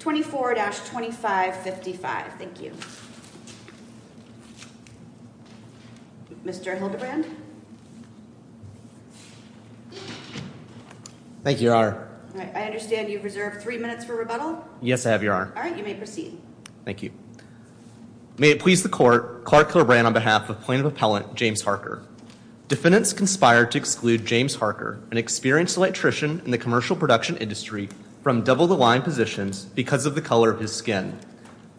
24-2555, thank you. Mr. Hildebrand? Thank you, Your Honor. I understand you have reserved three minutes for rebuttal? Yes, I have, Your Honor. Alright, you may proceed. Thank you. May it please the Court, Clark Hildebrand on behalf of Plaintiff Appellant James Harker. Defendants conspired to exclude James Harker, an experienced electrician in the commercial production industry, from double-the-line positions because of the color of his skin.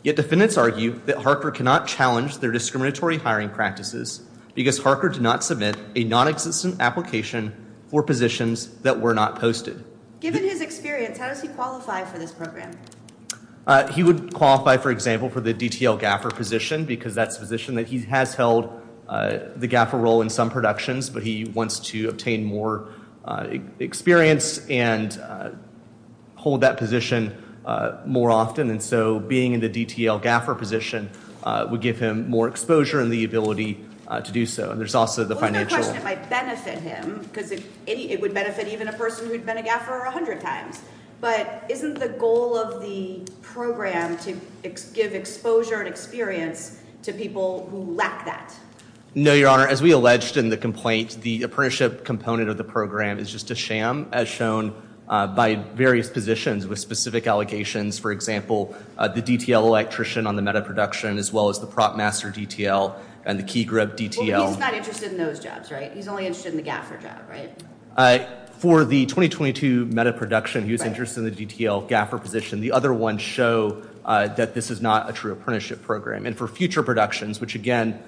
Yet defendants argue that Harker cannot challenge their discriminatory hiring practices because Harker did not submit a nonexistent application for positions that were not posted. Given his experience, how does he qualify for this program? He would qualify, for example, for the DTL gaffer position because that's the position that he has held the gaffer role in some productions, but he wants to obtain more experience and hold that position more often, and so being in the DTL gaffer position would give him more exposure and the ability to do so. There's also the financial... Well, I have a question. It might benefit him because it would benefit even a person who had been a gaffer 100 times, but isn't the goal of the program to give exposure and experience to people who lack that? No, Your Honor. As we alleged in the complaint, the apprenticeship component of the program is just a sham as shown by various positions with specific allegations. For example, the DTL electrician on the meta-production as well as the prop master DTL and the key group DTL. Well, he's not interested in those jobs, right? He's only interested in the gaffer job, right? For the 2022 meta-production, he was interested in the DTL gaffer position. The other ones show that this is not a true apprenticeship program, and for future productions, which again,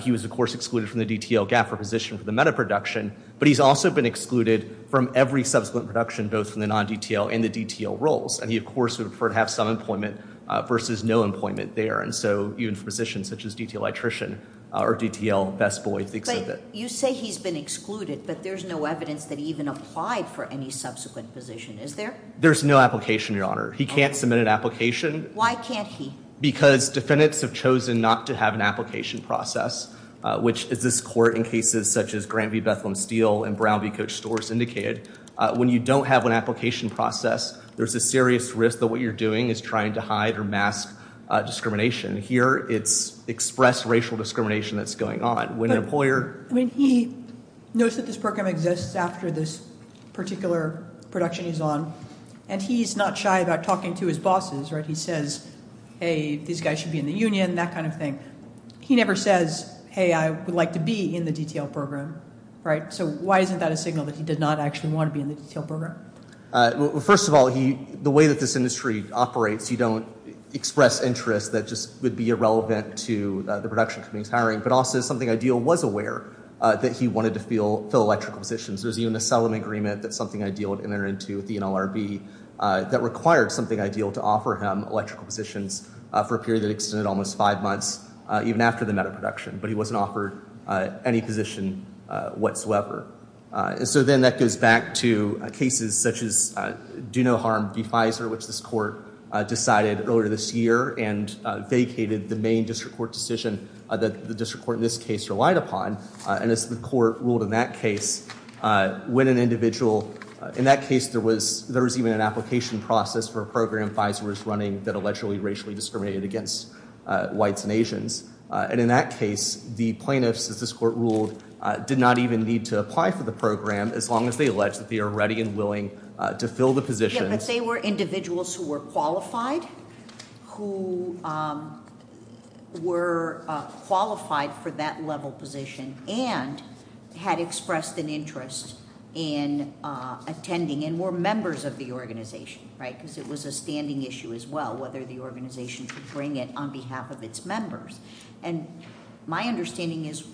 he was, of course, excluded from the DTL gaffer position for the meta-production, but he's also been excluded from every subsequent production, both from the non-DTL and the DTL roles. And he, of course, would prefer to have some employment versus no employment there. And so even for positions such as DTL electrician or DTL best boy exhibit. You say he's been excluded, but there's no evidence that he even applied for any subsequent position. Is there? There's no application, Your Honor. He can't submit an application. Why can't he? Because defendants have chosen not to have an application process, which is this court in cases such as Grant v. Bethlehem Steel and Brown v. Coach Storrs indicated. When you don't have an application process, there's a serious risk that what you're doing is trying to hide or mask discrimination. Here it's expressed racial discrimination that's going on. When an employer- I mean, he knows that this program exists after this particular production he's on, and he's not shy about talking to his bosses, right? He says, hey, these guys should be in the union, that kind of thing. He never says, hey, I would like to be in the DTL program, right? So why isn't that a signal that he did not actually want to be in the DTL program? First of all, the way that this industry operates, you don't express interest that just would be irrelevant to the production company's hiring, but also something ideal was aware that he wanted to fill electrical positions. There's even a settlement agreement that's something ideal to enter into with the NLRB that required something ideal to offer him electrical positions for a period that extended almost five months even after the meta-production, but he wasn't offered any position whatsoever. So then that goes back to cases such as Do No Harm v. Pfizer, which this court decided earlier this year and vacated the main district court decision that the district court in this case relied upon, and as the court ruled in that case, when an individual- in that case, there was even an application process for a program Pfizer was running that allegedly racially discriminated against whites and Asians, and in that case, the plaintiffs, as this court ruled, did not even need to apply for the program as long as they allege that they are ready and willing to fill the position- Yeah, but they were individuals who were qualified, who were qualified for that level position and had expressed an interest in attending and were members of the organization, right? Because it was a standing issue as well, whether the organization could bring it on behalf of its members, and my understanding is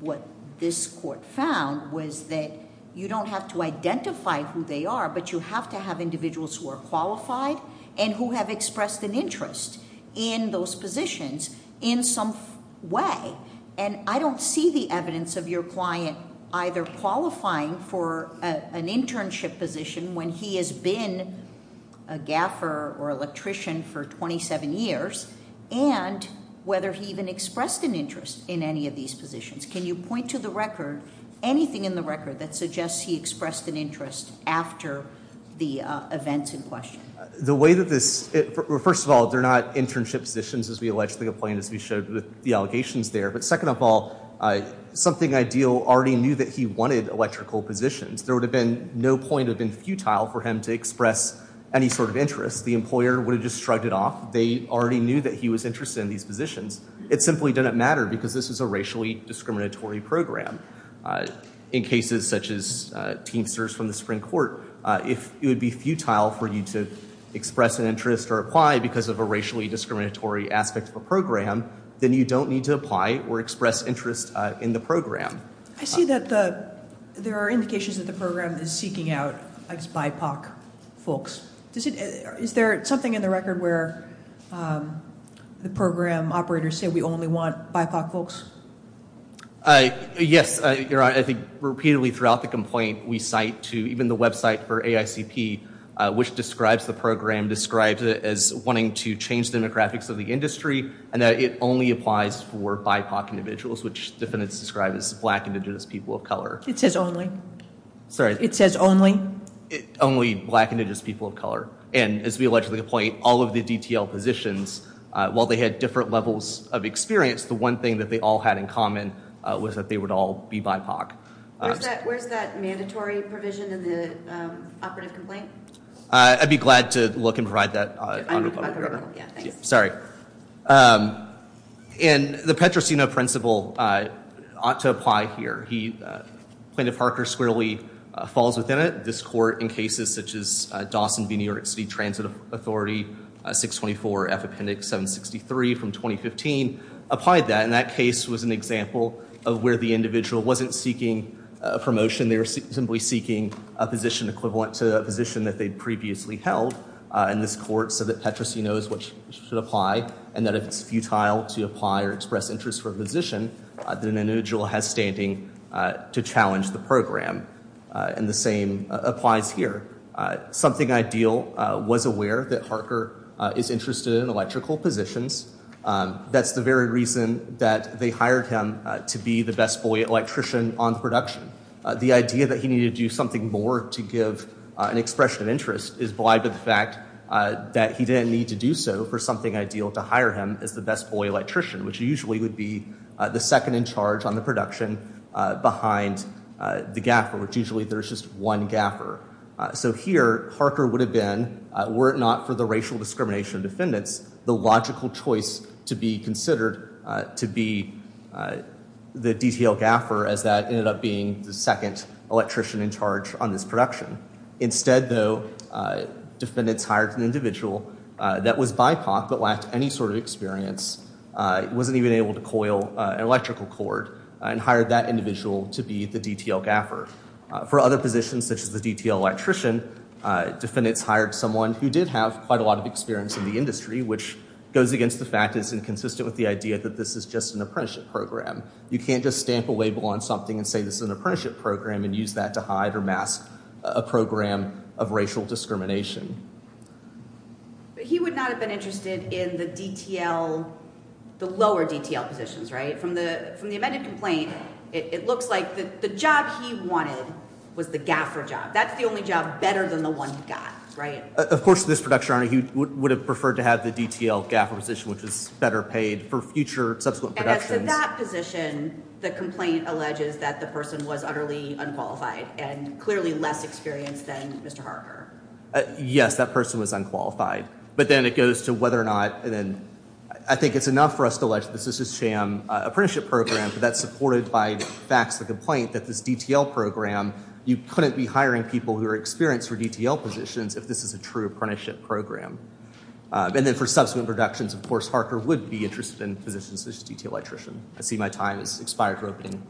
what this court found was that you don't have to identify who they are, but you have to have individuals who are qualified and who have expressed an interest in those positions in some way, and I don't see the evidence of your client either qualifying for an internship position when he has been a gaffer or electrician for 27 years, and whether he even expressed an interest in any of these positions. Can you point to the record, anything in the record that suggests he expressed an interest after the events in question? The way that this- first of all, they're not internship positions as we allegedly complained as we showed with the allegations there, but second of all, something ideal already knew that he wanted electrical positions. There would have been no point of being futile for him to express any sort of interest. The employer would have just shrugged it off. They already knew that he was interested in these positions. It simply didn't matter because this was a racially discriminatory program. In cases such as Teamsters from the Supreme Court, if it would be futile for you to express an interest or apply because of a racially discriminatory aspect of a program, then you don't need to apply or express interest in the program. I see that the- there are indications that the program is seeking out BIPOC folks. Is there something in the record where the program operators say we only want BIPOC folks? Yes. Your Honor, I think repeatedly throughout the complaint, we cite to even the website for AICP, which describes the program, describes it as wanting to change demographics of the industry, and that it only applies for BIPOC individuals, which defendants describe as black indigenous people of color. It says only. Sorry. It says only. Only black indigenous people of color. And as we allegedly point, all of the DTL positions, while they had different levels of experience, the one thing that they all had in common was that they would all be BIPOC. Where's that mandatory provision in the operative complaint? I'd be glad to look and provide that on your record. Yeah, thanks. Sorry. And the Petrosino principle ought to apply here. Plaintiff Harker squarely falls within it. This court, in cases such as Dawson v. New York City Transit Authority, 624F Appendix 763 from 2015, applied that, and that case was an example of where the individual wasn't seeking a promotion, they were simply seeking a position equivalent to a position that they'd previously held in this court, so that Petrosino is what should apply, and that if it's futile to apply or express interest for a position, then an individual has standing to challenge the program. And the same applies here. Something ideal was aware that Harker is interested in electrical positions. That's the very reason that they hired him to be the best boy electrician on the production. The idea that he needed to do something more to give an expression of interest is blind to the fact that he didn't need to do so for something ideal to hire him as the best boy electrician, which usually would be the second in charge on the production behind the gaffer, which usually there's just one gaffer. So here, Harker would have been, were it not for the racial discrimination of defendants, the logical choice to be considered to be the DTL gaffer as that ended up being the second electrician in charge on this production. Instead, though, defendants hired an individual that was BIPOC but lacked any sort of experience, wasn't even able to coil an electrical cord, and hired that individual to be the DTL gaffer. For other positions, such as the DTL electrician, defendants hired someone who did have quite a lot of experience in the industry, which goes against the fact that it's inconsistent with the idea that this is just an apprenticeship program. You can't just stamp a label on something and say this is an apprenticeship program and use that to hide or mask a program of racial discrimination. He would not have been interested in the DTL, the lower DTL positions, right? From the amended complaint, it looks like the job he wanted was the gaffer job. That's the only job better than the one he got, right? Of course, this production owner, he would have preferred to have the DTL gaffer position, which is better paid for future subsequent productions. And as to that position, the complaint alleges that the person was utterly unqualified and clearly less experienced than Mr. Harker. Yes, that person was unqualified. But then it goes to whether or not, and then I think it's enough for us to allege that this is a sham apprenticeship program, but that's supported by facts of the complaint that this DTL program, you couldn't be hiring people who are experienced for DTL positions if this is a true apprenticeship program. And then for subsequent productions, of course, Harker would be interested in positions such as DTL electrician. I see my time has expired for opening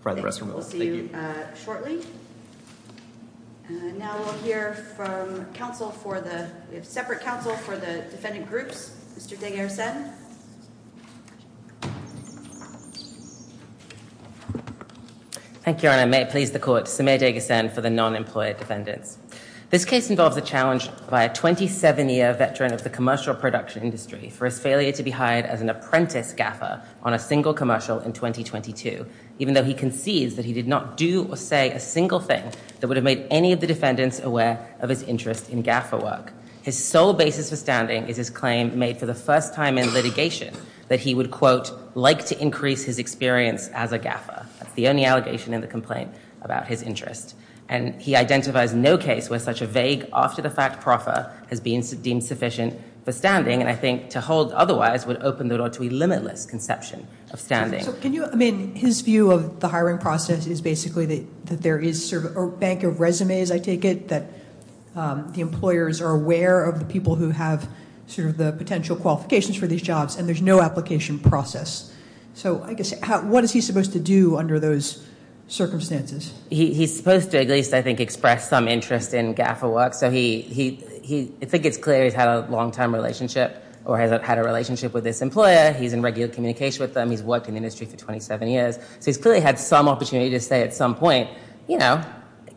for the rest of the meeting. We'll see you shortly. Now we'll hear from counsel for the, we have separate counsel for the defendant groups. Mr. Degasen. Thank you, Your Honor. May it please the court. Samir Degasen for the non-employer defendants. This case involves a challenge by a 27-year veteran of the commercial production industry for his failure to be hired as an apprentice gaffer on a single commercial in 2022, even though he concedes that he did not do or say a single thing that would have made any of the defendants aware of his interest in gaffer work. His sole basis for standing is his claim made for the first time in litigation that he would, quote, like to increase his experience as a gaffer. That's the only allegation in the complaint about his interest. And he identifies no case where such a vague, after-the-fact proffer has been deemed sufficient for standing. And I think to hold otherwise would open the door to a limitless conception of standing. So can you, I mean, his view of the hiring process is basically that there is sort of a bank of resumes, I take it, that the employers are aware of the people who have sort of the potential qualifications for these jobs and there's no application process. So I guess, what is he supposed to do under those circumstances? He's supposed to at least, I think, express some interest in gaffer work. So he, I think it's clear he's had a long-time relationship or has had a relationship with this employer. He's in regular communication with them. He's worked in the industry for 27 years. So he's clearly had some opportunity to say at some point, you know,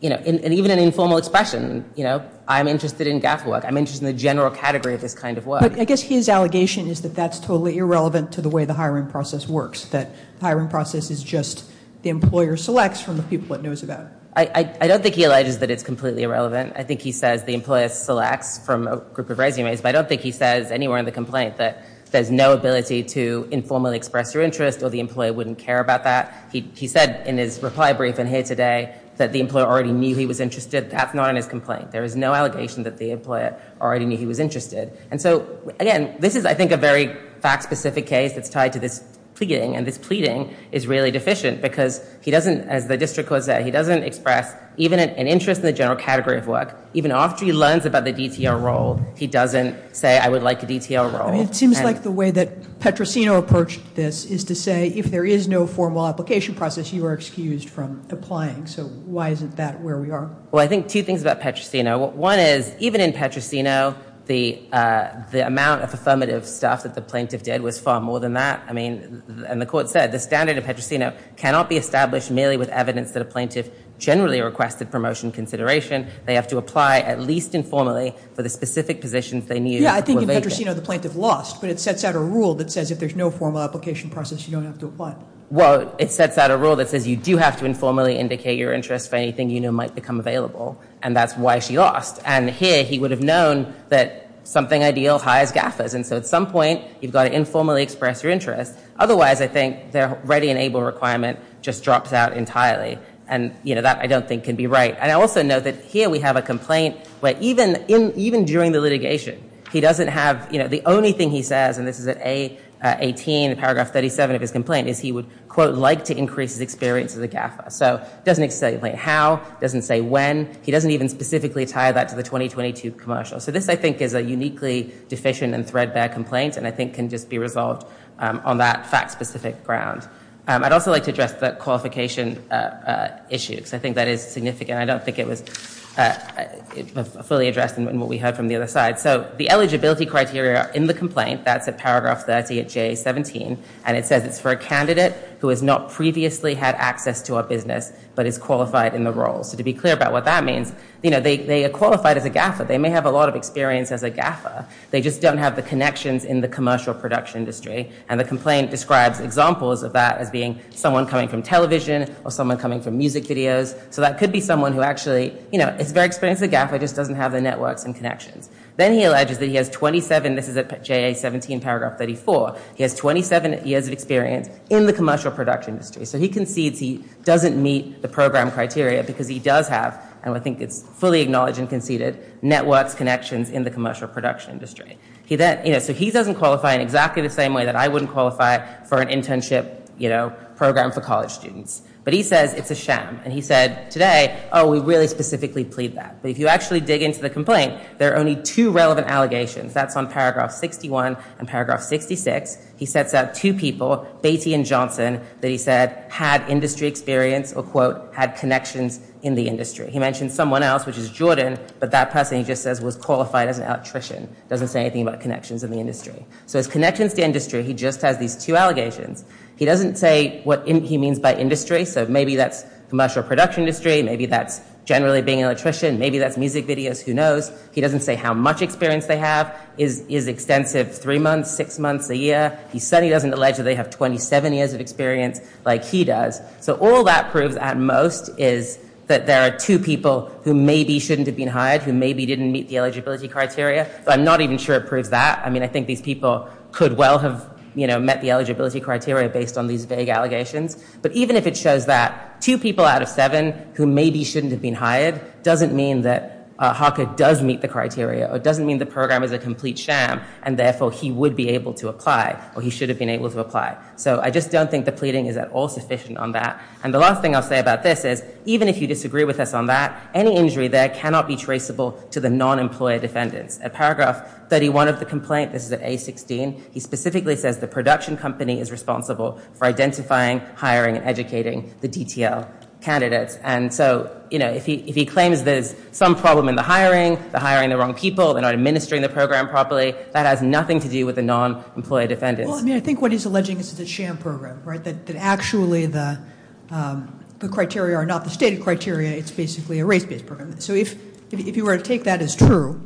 and even an informal expression, you know, I'm interested in gaffer work. I'm interested in the general category of this kind of work. But I guess his allegation is that that's totally irrelevant to the way the hiring process works. That the hiring process is just the employer selects from the people it knows about. I don't think he alleges that it's completely irrelevant. I think he says the employer selects from a group of resumes. But I don't think he says anywhere in the complaint that there's no ability to informally express your interest or the employer wouldn't care about that. He said in his reply brief in here today that the employer already knew he was interested. That's not in his complaint. There is no allegation that the employer already knew he was interested. And so, again, this is, I think, a very fact-specific case that's tied to this pleading is really deficient because he doesn't, as the district court said, he doesn't express even an interest in the general category of work. Even after he learns about the DTR role, he doesn't say I would like a DTR role. I mean, it seems like the way that Petrosino approached this is to say if there is no formal application process, you are excused from applying. So why isn't that where we are? Well, I think two things about Petrosino. One is even in Petrosino, the amount of affirmative stuff that the plaintiff did was far more than that. And the court said the standard of Petrosino cannot be established merely with evidence that a plaintiff generally requested promotion consideration. They have to apply at least informally for the specific positions they knew were vacant. Yeah, I think in Petrosino, the plaintiff lost. But it sets out a rule that says if there's no formal application process, you don't have to apply. Well, it sets out a rule that says you do have to informally indicate your interest for anything you know might become available. And that's why she lost. And here, he would have known that something ideal hires gaffers. And so at some point, you've got to informally express your interest. Otherwise, I think their ready and able requirement just drops out entirely. And, you know, that I don't think can be right. And I also note that here we have a complaint where even during the litigation, he doesn't have, you know, the only thing he says, and this is at A18 in paragraph 37 of his complaint, is he would, quote, like to increase his experience as a gaffer. So he doesn't say how, he doesn't say when. He doesn't even specifically tie that to the 2022 commercial. So this, I think, is a uniquely deficient and threadbare complaint, and I think can just be resolved on that fact-specific ground. I'd also like to address the qualification issue, because I think that is significant. I don't think it was fully addressed in what we heard from the other side. So the eligibility criteria in the complaint, that's at paragraph 30 at J17, and it says it's for a candidate who has not previously had access to a business, but is qualified in the role. So to be clear about what that means, you know, they are qualified as a gaffer. They may have a lot of experience as a gaffer. They just don't have the connections in the commercial production industry, and the complaint describes examples of that as being someone coming from television or someone coming from music videos. So that could be someone who actually, you know, is very experienced as a gaffer, just doesn't have the networks and connections. Then he alleges that he has 27, this is at J17, paragraph 34, he has 27 years of experience in the commercial production industry. So he concedes he doesn't meet the program criteria, because he does have, and I think it's fully acknowledged and conceded, networks, connections in the commercial production industry. So he doesn't qualify in exactly the same way that I wouldn't qualify for an internship, you know, program for college students. But he says it's a sham, and he said today, oh, we really specifically plead that. But if you actually dig into the complaint, there are only two relevant allegations. That's on paragraph 61 and paragraph 66. He sets out two people, Baty and Johnson, that he said had industry experience or, quote, had connections in the industry. He mentioned someone else, which is Jordan, but that person he just says was qualified as an electrician, doesn't say anything about connections in the industry. So his connections to industry, he just has these two allegations. He doesn't say what he means by industry. So maybe that's commercial production industry. Maybe that's generally being an electrician. Maybe that's music videos, who knows. He doesn't say how much experience they have, is extensive, three months, six months, a year. He certainly doesn't allege that they have 27 years of experience like he does. So all that proves, at most, is that there are two people who maybe shouldn't have been hired, who maybe didn't meet the eligibility criteria. I'm not even sure it proves that. I mean, I think these people could well have, you know, met the eligibility criteria based on these vague allegations. But even if it shows that, two people out of seven who maybe shouldn't have been hired doesn't mean that Harker does meet the criteria, or doesn't mean the program is a complete sham, and therefore he would be able to apply, or he should have been able to apply. So I just don't think the pleading is at all sufficient on that. And the last thing I'll say about this is, even if you disagree with us on that, any injury there cannot be traceable to the non-employer defendants. At paragraph 31 of the complaint, this is at A16, he specifically says the production company is responsible for identifying, hiring, and educating the DTL candidates. And so, you know, if he claims there's some problem in the hiring, the hiring the wrong people, they're not administering the program properly, that has nothing to do with the non-employer defendants. Well, I mean, I think what he's alleging is that it's a sham program, right? That actually the criteria are not the stated criteria, it's basically a race-based program. So if you were to take that as true,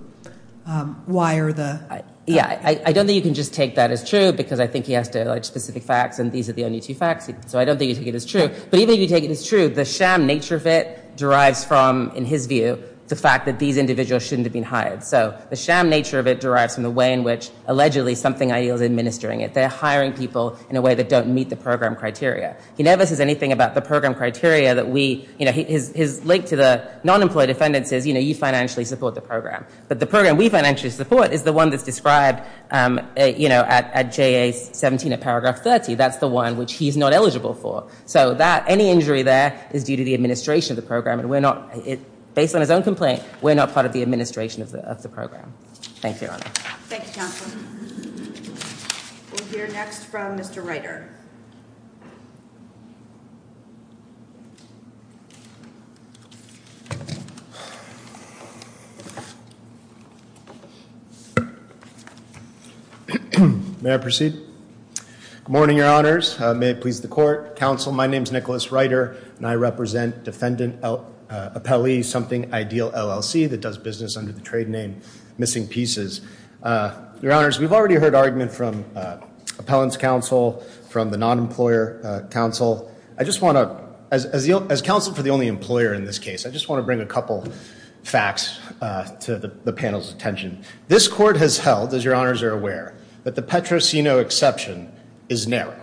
why are the... Yeah, I don't think you can just take that as true, because I think he has to allege specific facts, and these are the only two facts, so I don't think you take it as true. But even if you take it as true, the sham nature of it derives from, in his view, the fact that these individuals shouldn't have been hired. So the sham nature of it derives from the way in which, allegedly, something ideal is administering it. They're hiring people in a way that don't meet the program criteria. He never says anything about the program criteria that we... You know, his link to the non-employer defendants is, you know, you financially support the program. But the program we financially support is the one that's described, you know, at JA-17 at paragraph 30. That's the one which he's not eligible for. So that, any injury there is due to the administration of the program, and we're not, based on his own complaint, we're not part of the administration of the program. Thank you, Your Honor. Thank you, Counselor. We'll hear next from Mr. Ryder. May I proceed? Good morning, Your Honors. May it please the Court. Counsel, my name is Nicholas Ryder, and I represent Defendant Appellee Something Ideal, LLC, that does business under the trade name Missing Pieces. Your Honors, we've already heard argument from Appellant's counsel, from the non-employer counsel. I just want to, as counsel for the only employer in this case, I just want to bring a couple facts to the panel's attention. This Court has held, as Your Honors are aware, that the Petrosino exception is narrow.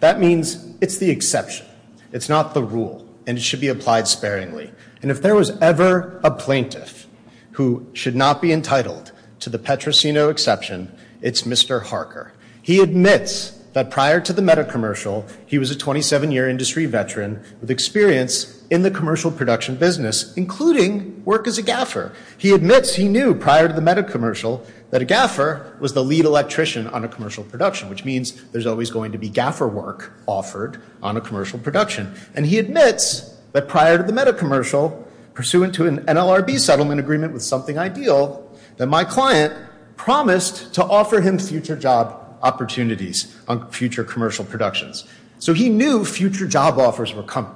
That means it's the exception. It's not the rule, and it should be applied sparingly. And if there was ever a plaintiff who should not be entitled to the Petrosino exception, it's Mr. Harker. He admits that prior to the meta-commercial, he was a 27-year industry veteran with experience in the commercial production business, including work as a gaffer. He admits he knew prior to the meta-commercial that a gaffer was the lead electrician on a commercial production, which means there's always going to be gaffer work offered on a commercial production. And he admits that prior to the meta-commercial, pursuant to an NLRB settlement agreement with Something Ideal, that my client promised to offer him future job opportunities on future commercial productions. So he knew future job offers were coming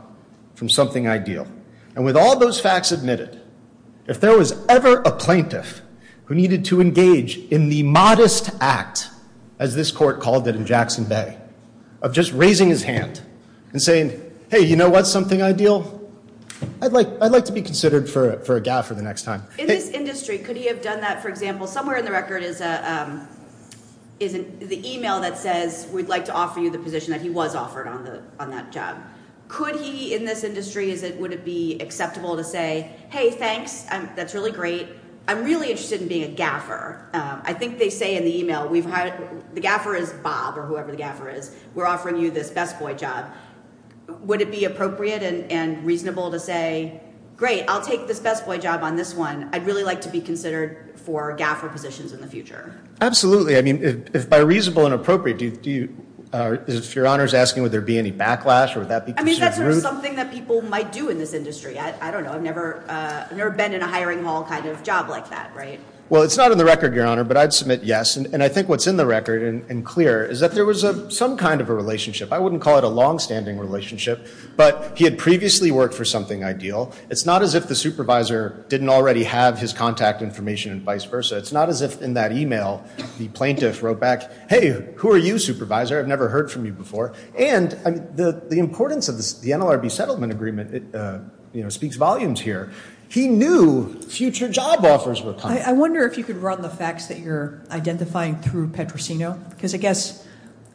from Something Ideal. And with all those facts admitted, if there was ever a plaintiff who needed to engage in the modest act, as this Court called it in Jackson Bay, of just raising his hand and saying, hey, you know what, Something Ideal? I'd like to be considered for a gaffer the next time. In this industry, could he have done that, for example, somewhere in the record is the email that says, we'd like to offer you the position that he was offered on that job. Could he, in this industry, would it be acceptable to say, hey, thanks, that's really great. I'm really interested in being a gaffer. I think they say in the email, the gaffer is Bob or whoever the gaffer is. We're offering you this best boy job. Would it be appropriate and reasonable to say, great, I'll take this best boy job on this one. I'd really like to be considered for gaffer positions in the future? Absolutely. I mean, if by reasonable and appropriate, if Your Honor is asking, would there be any backlash or would that be considered rude? I mean, is that something that people might do in this industry? I don't know. I've never been in a hiring hall kind of job like that, right? Well, it's not in the record, Your Honor, but I'd submit yes. And I think what's in the record and clear is that there was some kind of a relationship. I wouldn't call it a longstanding relationship, but he had previously worked for something ideal. It's not as if the supervisor didn't already have his contact information and vice versa. It's not as if in that email, the plaintiff wrote back, hey, who are you, supervisor? I've never heard from you before. And the importance of the NLRB settlement agreement speaks volumes here. He knew future job offers were coming. I wonder if you could run the facts that you're identifying through Petrosino. Because I guess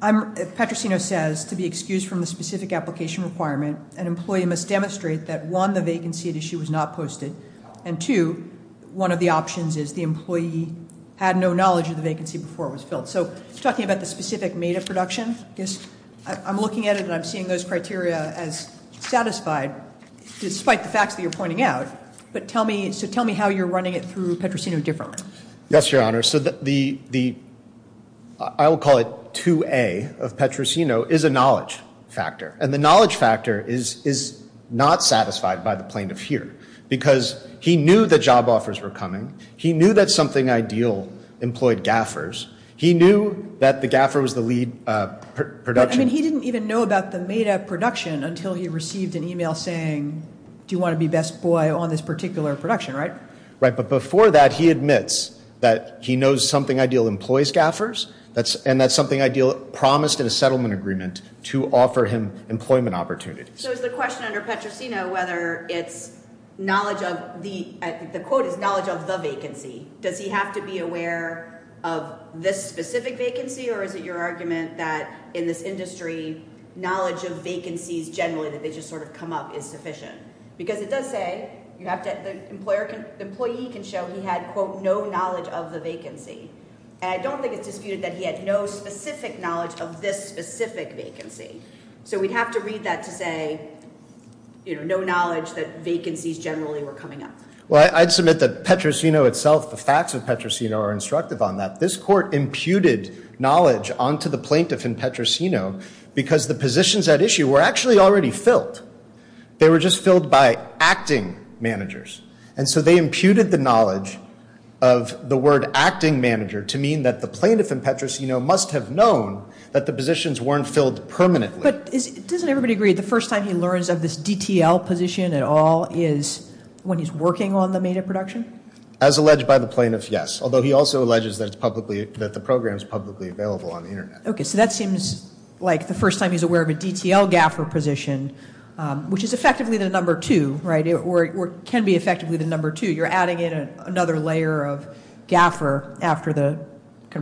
Petrosino says, to be excused from the specific application requirement, an employee must demonstrate that, one, the vacancy at issue was not posted, and two, one of the options is the employee had no knowledge of the vacancy before it was filled. So talking about the specific META production, I guess I'm looking at it and I'm seeing those criteria as satisfied, despite the facts that you're pointing out. But tell me how you're running it through Petrosino differently. Yes, Your Honor. So the, I will call it 2A of Petrosino, is a knowledge factor. And the knowledge factor is not satisfied by the plaintiff here. Because he knew that job offers were coming. He knew that Something Ideal employed gaffers. He knew that the gaffer was the lead production. I mean, he didn't even know about the META production until he received an email saying, do you want to be best boy on this particular production, right? Right. But before that, he admits that he knows Something Ideal employs gaffers, and that Something Ideal promised in a settlement agreement to offer him employment opportunities. So is the question under Petrosino whether it's knowledge of the, the quote is knowledge of the vacancy. Does he have to be aware of this specific vacancy? Or is it your argument that in this industry, knowledge of vacancies generally that they just sort of come up is sufficient? Because it does say you have to, the employer can, the employee can show he had, quote, no knowledge of the vacancy. And I don't think it's disputed that he had no specific knowledge of this specific vacancy. So we'd have to read that to say, you know, no knowledge that vacancies generally were coming up. Well, I'd submit that Petrosino itself, the facts of Petrosino are instructive on that. This court imputed knowledge onto the plaintiff in Petrosino because the positions at issue were actually already filled. They were just filled by acting managers. And so they imputed the knowledge of the word acting manager to mean that the plaintiff in Petrosino must have known that the positions weren't filled permanently. But doesn't everybody agree the first time he learns of this DTL position at all is when he's working on the made-up production? As alleged by the plaintiff, yes. Although he also alleges that it's publicly, that the program is publicly available on the internet. Okay, so that seems like the first time he's aware of a DTL GAFR position, which is effectively the number two, right? Or can be effectively the number two. You're adding in another layer of GAFR after the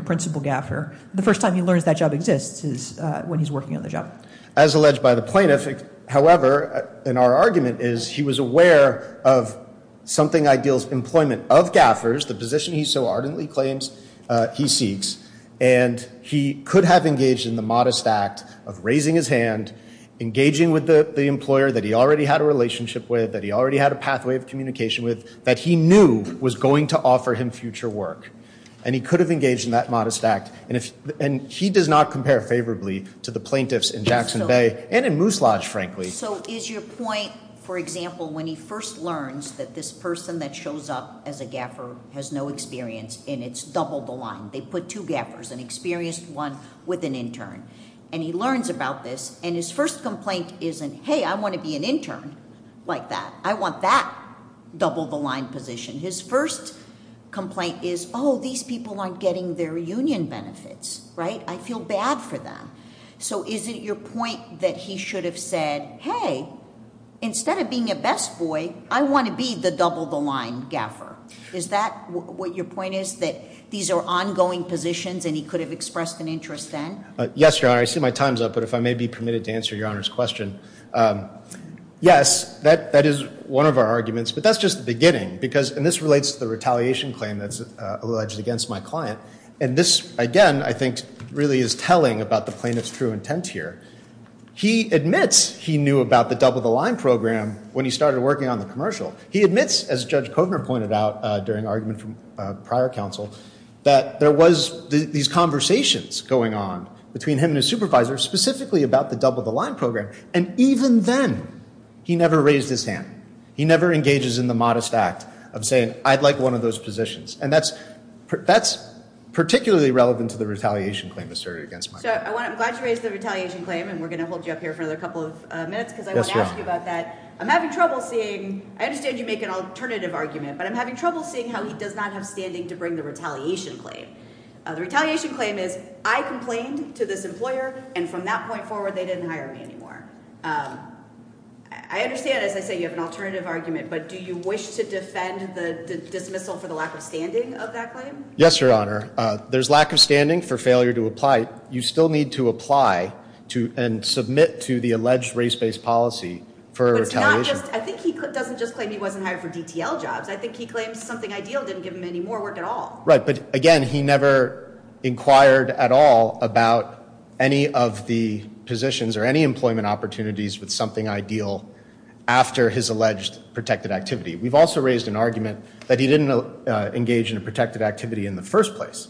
principal GAFR. The first time he learns that job exists is when he's working on the job. As alleged by the plaintiff, however, and our argument is he was aware of something ideal's employment of GAFRs, the position he so ardently claims he seeks. And he could have engaged in the modest act of raising his hand, engaging with the employer that he already had a relationship with, that he already had a pathway of communication with, that he knew was going to offer him future work. And he could have engaged in that modest act. And he does not compare favorably to the plaintiffs in Jackson Bay and in Moose Lodge, frankly. So is your point, for example, when he first learns that this person that shows up as a GAFR has no experience and it's double the line. They put two GAFRs, an experienced one with an intern. And he learns about this. And his first complaint isn't, hey, I want to be an intern like that. I want that double the line position. His first complaint is, oh, these people aren't getting their union benefits, right? I feel bad for them. So is it your point that he should have said, hey, instead of being a best boy, I want to be the double the line GAFR? Is that what your point is, that these are ongoing positions and he could have expressed an interest then? Yes, Your Honor. I see my time's up. But if I may be permitted to answer Your Honor's question. Yes, that is one of our arguments. But that's just the beginning. And this relates to the retaliation claim that's alleged against my client. And this, again, I think really is telling about the plaintiff's true intent here. He admits he knew about the double the line program when he started working on the commercial. He admits, as Judge Kovner pointed out during argument from prior counsel, that there was these conversations going on between him and his supervisor, specifically about the double the line program. And even then, he never raised his hand. He never engages in the modest act of saying, I'd like one of those positions. And that's particularly relevant to the retaliation claim asserted against my client. I'm glad you raised the retaliation claim. And we're going to hold you up here for another couple of minutes. Because I want to ask you about that. I'm having trouble seeing, I understand you make an alternative argument, but I'm having trouble seeing how he does not have standing to bring the retaliation claim. The retaliation claim is, I complained to this employer. And from that point forward, they didn't hire me anymore. I understand, as I say, you have an alternative argument, but do you wish to defend the dismissal for the lack of standing of that claim? Yes, Your Honor. There's lack of standing for failure to apply. You still need to apply to and submit to the alleged race-based policy for retaliation. I think he doesn't just claim he wasn't hired for DTL jobs. I think he claims something ideal didn't give him any more work at all. Right, but again, he never inquired at all about any of the positions or any employment opportunities with something ideal after his alleged protected activity. We've also raised an argument that he didn't engage in a protected activity in the first place.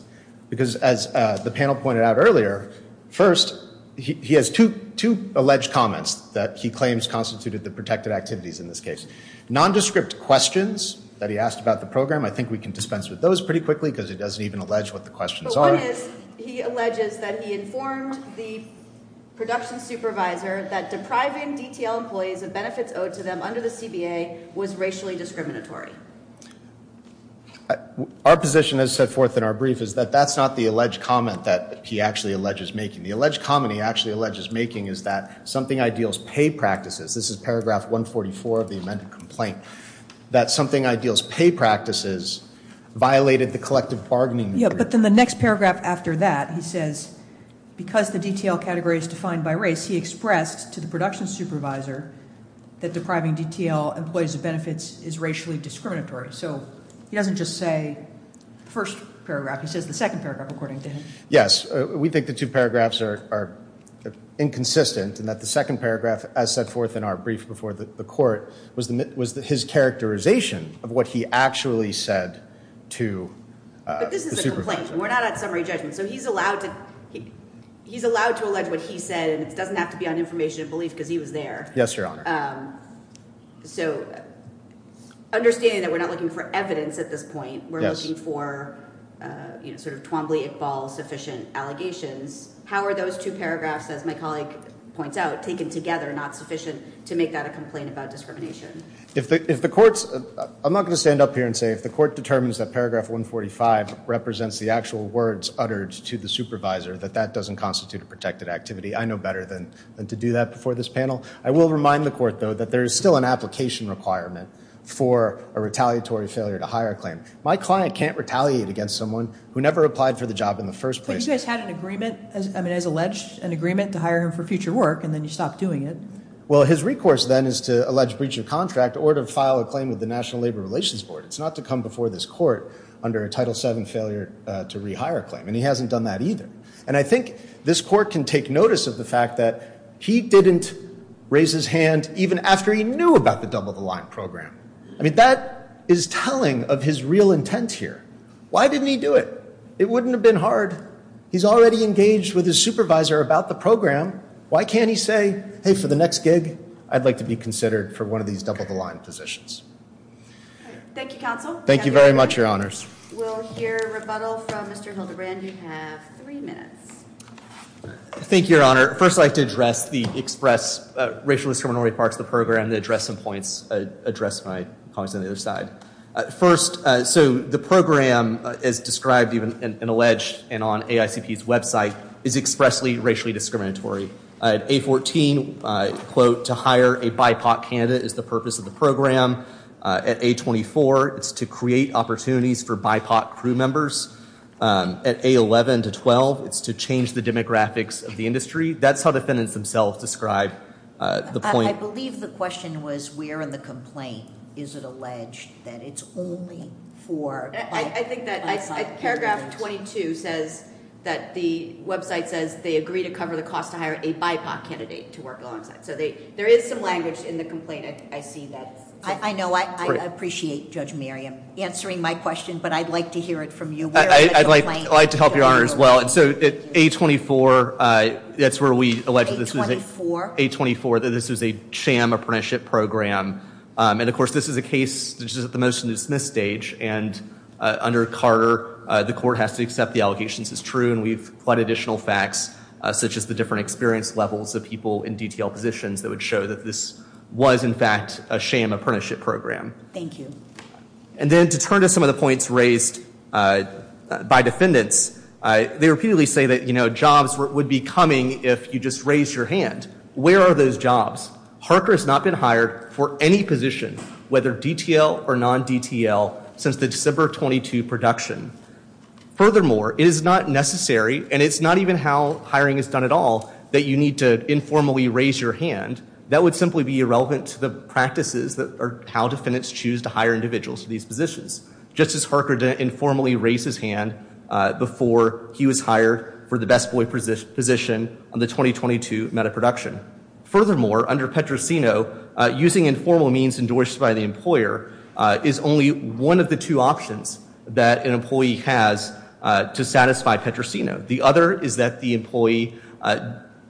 Because as the panel pointed out earlier, first, he has two alleged comments that he claims constituted the protected activities in this case. Nondescript questions that he asked about the program, I think we can dispense with those pretty quickly because it doesn't even allege what the questions are. But one is, he alleges that he informed the production supervisor that depriving DTL employees of benefits owed to them under the CBA was racially discriminatory. Our position, as set forth in our brief, is that that's not the alleged comment that he actually alleges making. The alleged comment he actually alleges making is that something ideal's pay practices, this is paragraph 144 of the amended complaint, that something ideal's pay practices violated the collective bargaining agreement. Yeah, but then the next paragraph after that, he says, because the DTL category is defined by race, he expressed to the production supervisor that depriving DTL employees of benefits is racially discriminatory. So he doesn't just say the first paragraph, he says the second paragraph, according to him. Yes, we think the two paragraphs are inconsistent and that the second paragraph, as set forth in our brief before the court, was his characterization of what he actually said to the supervisor. But this is a complaint. We're not at summary judgment. So he's allowed to allege what he said, and it doesn't have to be on information and belief because he was there. Yes, Your Honor. So understanding that we're not looking for evidence at this point, we're looking for sort of Twombly-Iqbal sufficient allegations. How are those two paragraphs, as my colleague points out, taken together not sufficient to make that a complaint about discrimination? I'm not going to stand up here and say if the court determines that paragraph 145 represents the actual words uttered to the supervisor, that that doesn't constitute a protected activity. I know better than to do that before this panel. I will remind the court, though, that there is still an application requirement for a retaliatory failure to hire a claim. My client can't retaliate against someone who never applied for the job in the first place. But you guys had an agreement, I mean, as alleged, an agreement to hire him for future work, and then you stopped doing it. Well, his recourse, then, is to allege breach of contract or to file a claim with the National Labor Relations Board. It's not to come before this court under a Title VII failure to rehire a claim, and he hasn't done that either. And I think this court can take notice of the fact that he didn't raise his hand even after he knew about the Double the Line program. I mean, that is telling of his real intent here. Why didn't he do it? It wouldn't have been hard. He's already engaged with his supervisor about the program. Why can't he say, hey, for the next gig, I'd like to be considered for one of these Double the Line positions? Thank you, counsel. Thank you very much, Your Honors. We'll hear rebuttal from Mr. Hildebrand. You have three minutes. Thank you, Your Honor. First, I'd like to address the express racial discriminatory parts of the program and address some points, address my comments on the other side. First, so the program, as described and alleged and on AICP's website, is expressly racially discriminatory. At A14, quote, to hire a BIPOC candidate is the purpose of the program. At A24, it's to create opportunities for BIPOC crew members. At A11 to 12, it's to change the demographics of the industry. That's how defendants themselves describe the point. I believe the question was where in the complaint is it alleged that it's only for BIPOC? I think that paragraph 22 says that the website says they agree to cover the cost to hire a BIPOC candidate to work alongside. So there is some language in the complaint, I see that. I know, I appreciate Judge Miriam answering my question, but I'd like to hear it from you. I'd like to help your honor as well. And so at A24, that's where we allege that this was a sham apprenticeship program. And of course, this is a case, this is at the motion to dismiss stage. And under Carter, the court has to accept the allegations as true. And we've quite additional facts such as the different experience levels of people in DTL positions that would show that this was, in fact, a sham apprenticeship program. Thank you. And then to turn to some of the points raised by defendants, they repeatedly say that, you know, jobs would be coming if you just raise your hand. Where are those jobs? Harker has not been hired for any position, whether DTL or non-DTL, since the December 22 production. Furthermore, it is not necessary, and it's not even how hiring is done at all, that you need to informally raise your hand. That would simply be irrelevant to the practices that are how defendants choose to hire individuals to these positions. Justice Harker didn't informally raise his hand before he was hired for the best boy position on the 2022 meta-production. Furthermore, under Petrosino, using informal means endorsed by the employer is only one of the two options that an employee has to satisfy Petrosino. The other is that the employee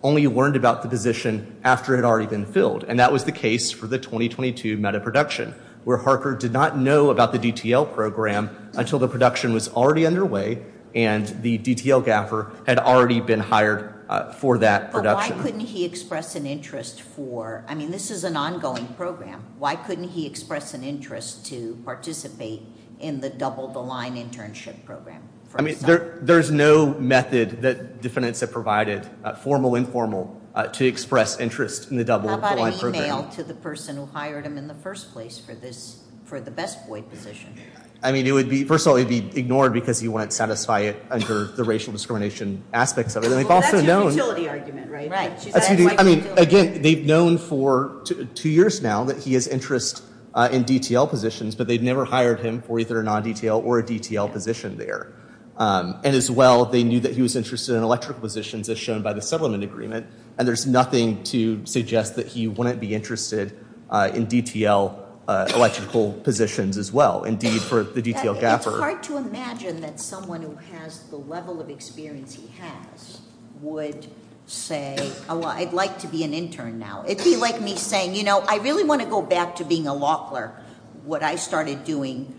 only learned about the position after it had already been filled. And that was the case for the 2022 meta-production, where Harker did not know about the DTL program until the production was already underway and the DTL gaffer had already been hired for that production. But why couldn't he express an interest for, I mean, this is an ongoing program. Why couldn't he express an interest to participate in the double the line internship program? I mean, there's no method that defendants have provided, formal, informal, to express interest in the double the line. To the person who hired him in the first place for this, for the best void position. I mean, it would be, first of all, it'd be ignored because he wouldn't satisfy it under the racial discrimination aspects of it. And they've also known. I mean, again, they've known for two years now that he has interest in DTL positions, but they'd never hired him for either a non-DTL or a DTL position there. And as well, they knew that he was interested in electric positions, as shown by the settlement agreement. And there's nothing to suggest that he wouldn't be interested in DTL electrical positions as well. Indeed, for the DTL gaffer. It's hard to imagine that someone who has the level of experience he has would say, I'd like to be an intern now. It'd be like me saying, I really want to go back to being a law clerk. What I started doing,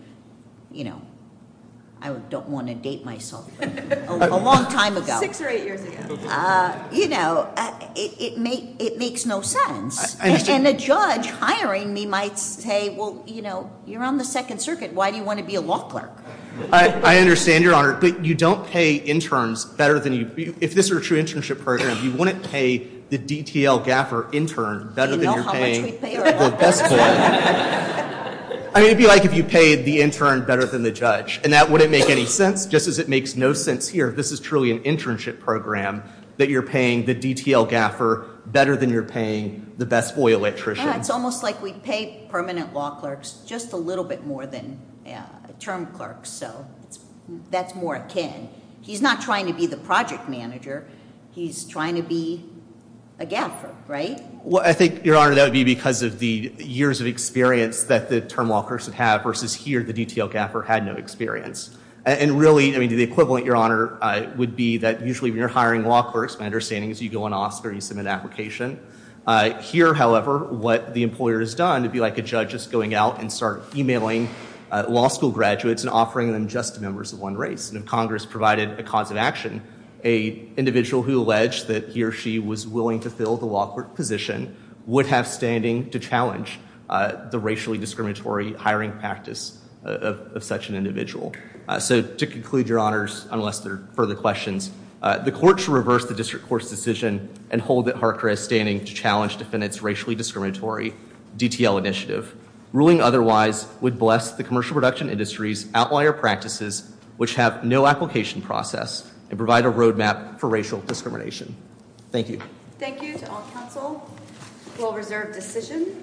I don't want to date myself, a long time ago. Six or eight years ago. You know, it makes no sense. And a judge hiring me might say, well, you know, you're on the Second Circuit. Why do you want to be a law clerk? I understand, Your Honor. But you don't pay interns better than you... If this were a true internship program, you wouldn't pay the DTL gaffer intern better than you're paying the best clerk. I mean, it'd be like if you paid the intern better than the judge. And that wouldn't make any sense, just as it makes no sense here. This is truly an internship program that you're paying the DTL gaffer better than you're paying the best FOIA electrician. And it's almost like we'd pay permanent law clerks just a little bit more than term clerks. So that's more akin. He's not trying to be the project manager. He's trying to be a gaffer, right? Well, I think, Your Honor, that would be because of the years of experience that the term law clerks would have versus here the DTL gaffer had no experience. And really, I mean, the equivalent, Your Honor, would be that usually when you're hiring law clerks, my understanding is you go on office or you submit an application. Here, however, what the employer has done would be like a judge just going out and start emailing law school graduates and offering them just members of one race. And if Congress provided a cause of action, a individual who alleged that he or she was willing to fill the law clerk position would have standing to challenge the racially discriminatory hiring practice of such an individual. So to conclude, Your Honors, unless there are further questions, the court should reverse the district court's decision and hold that Harker is standing to challenge defendants racially discriminatory DTL initiative. Ruling otherwise would bless the commercial production industry's outlier practices, which have no application process and provide a roadmap for racial discrimination. Thank you. Thank you to all counsel. We'll reserve decision.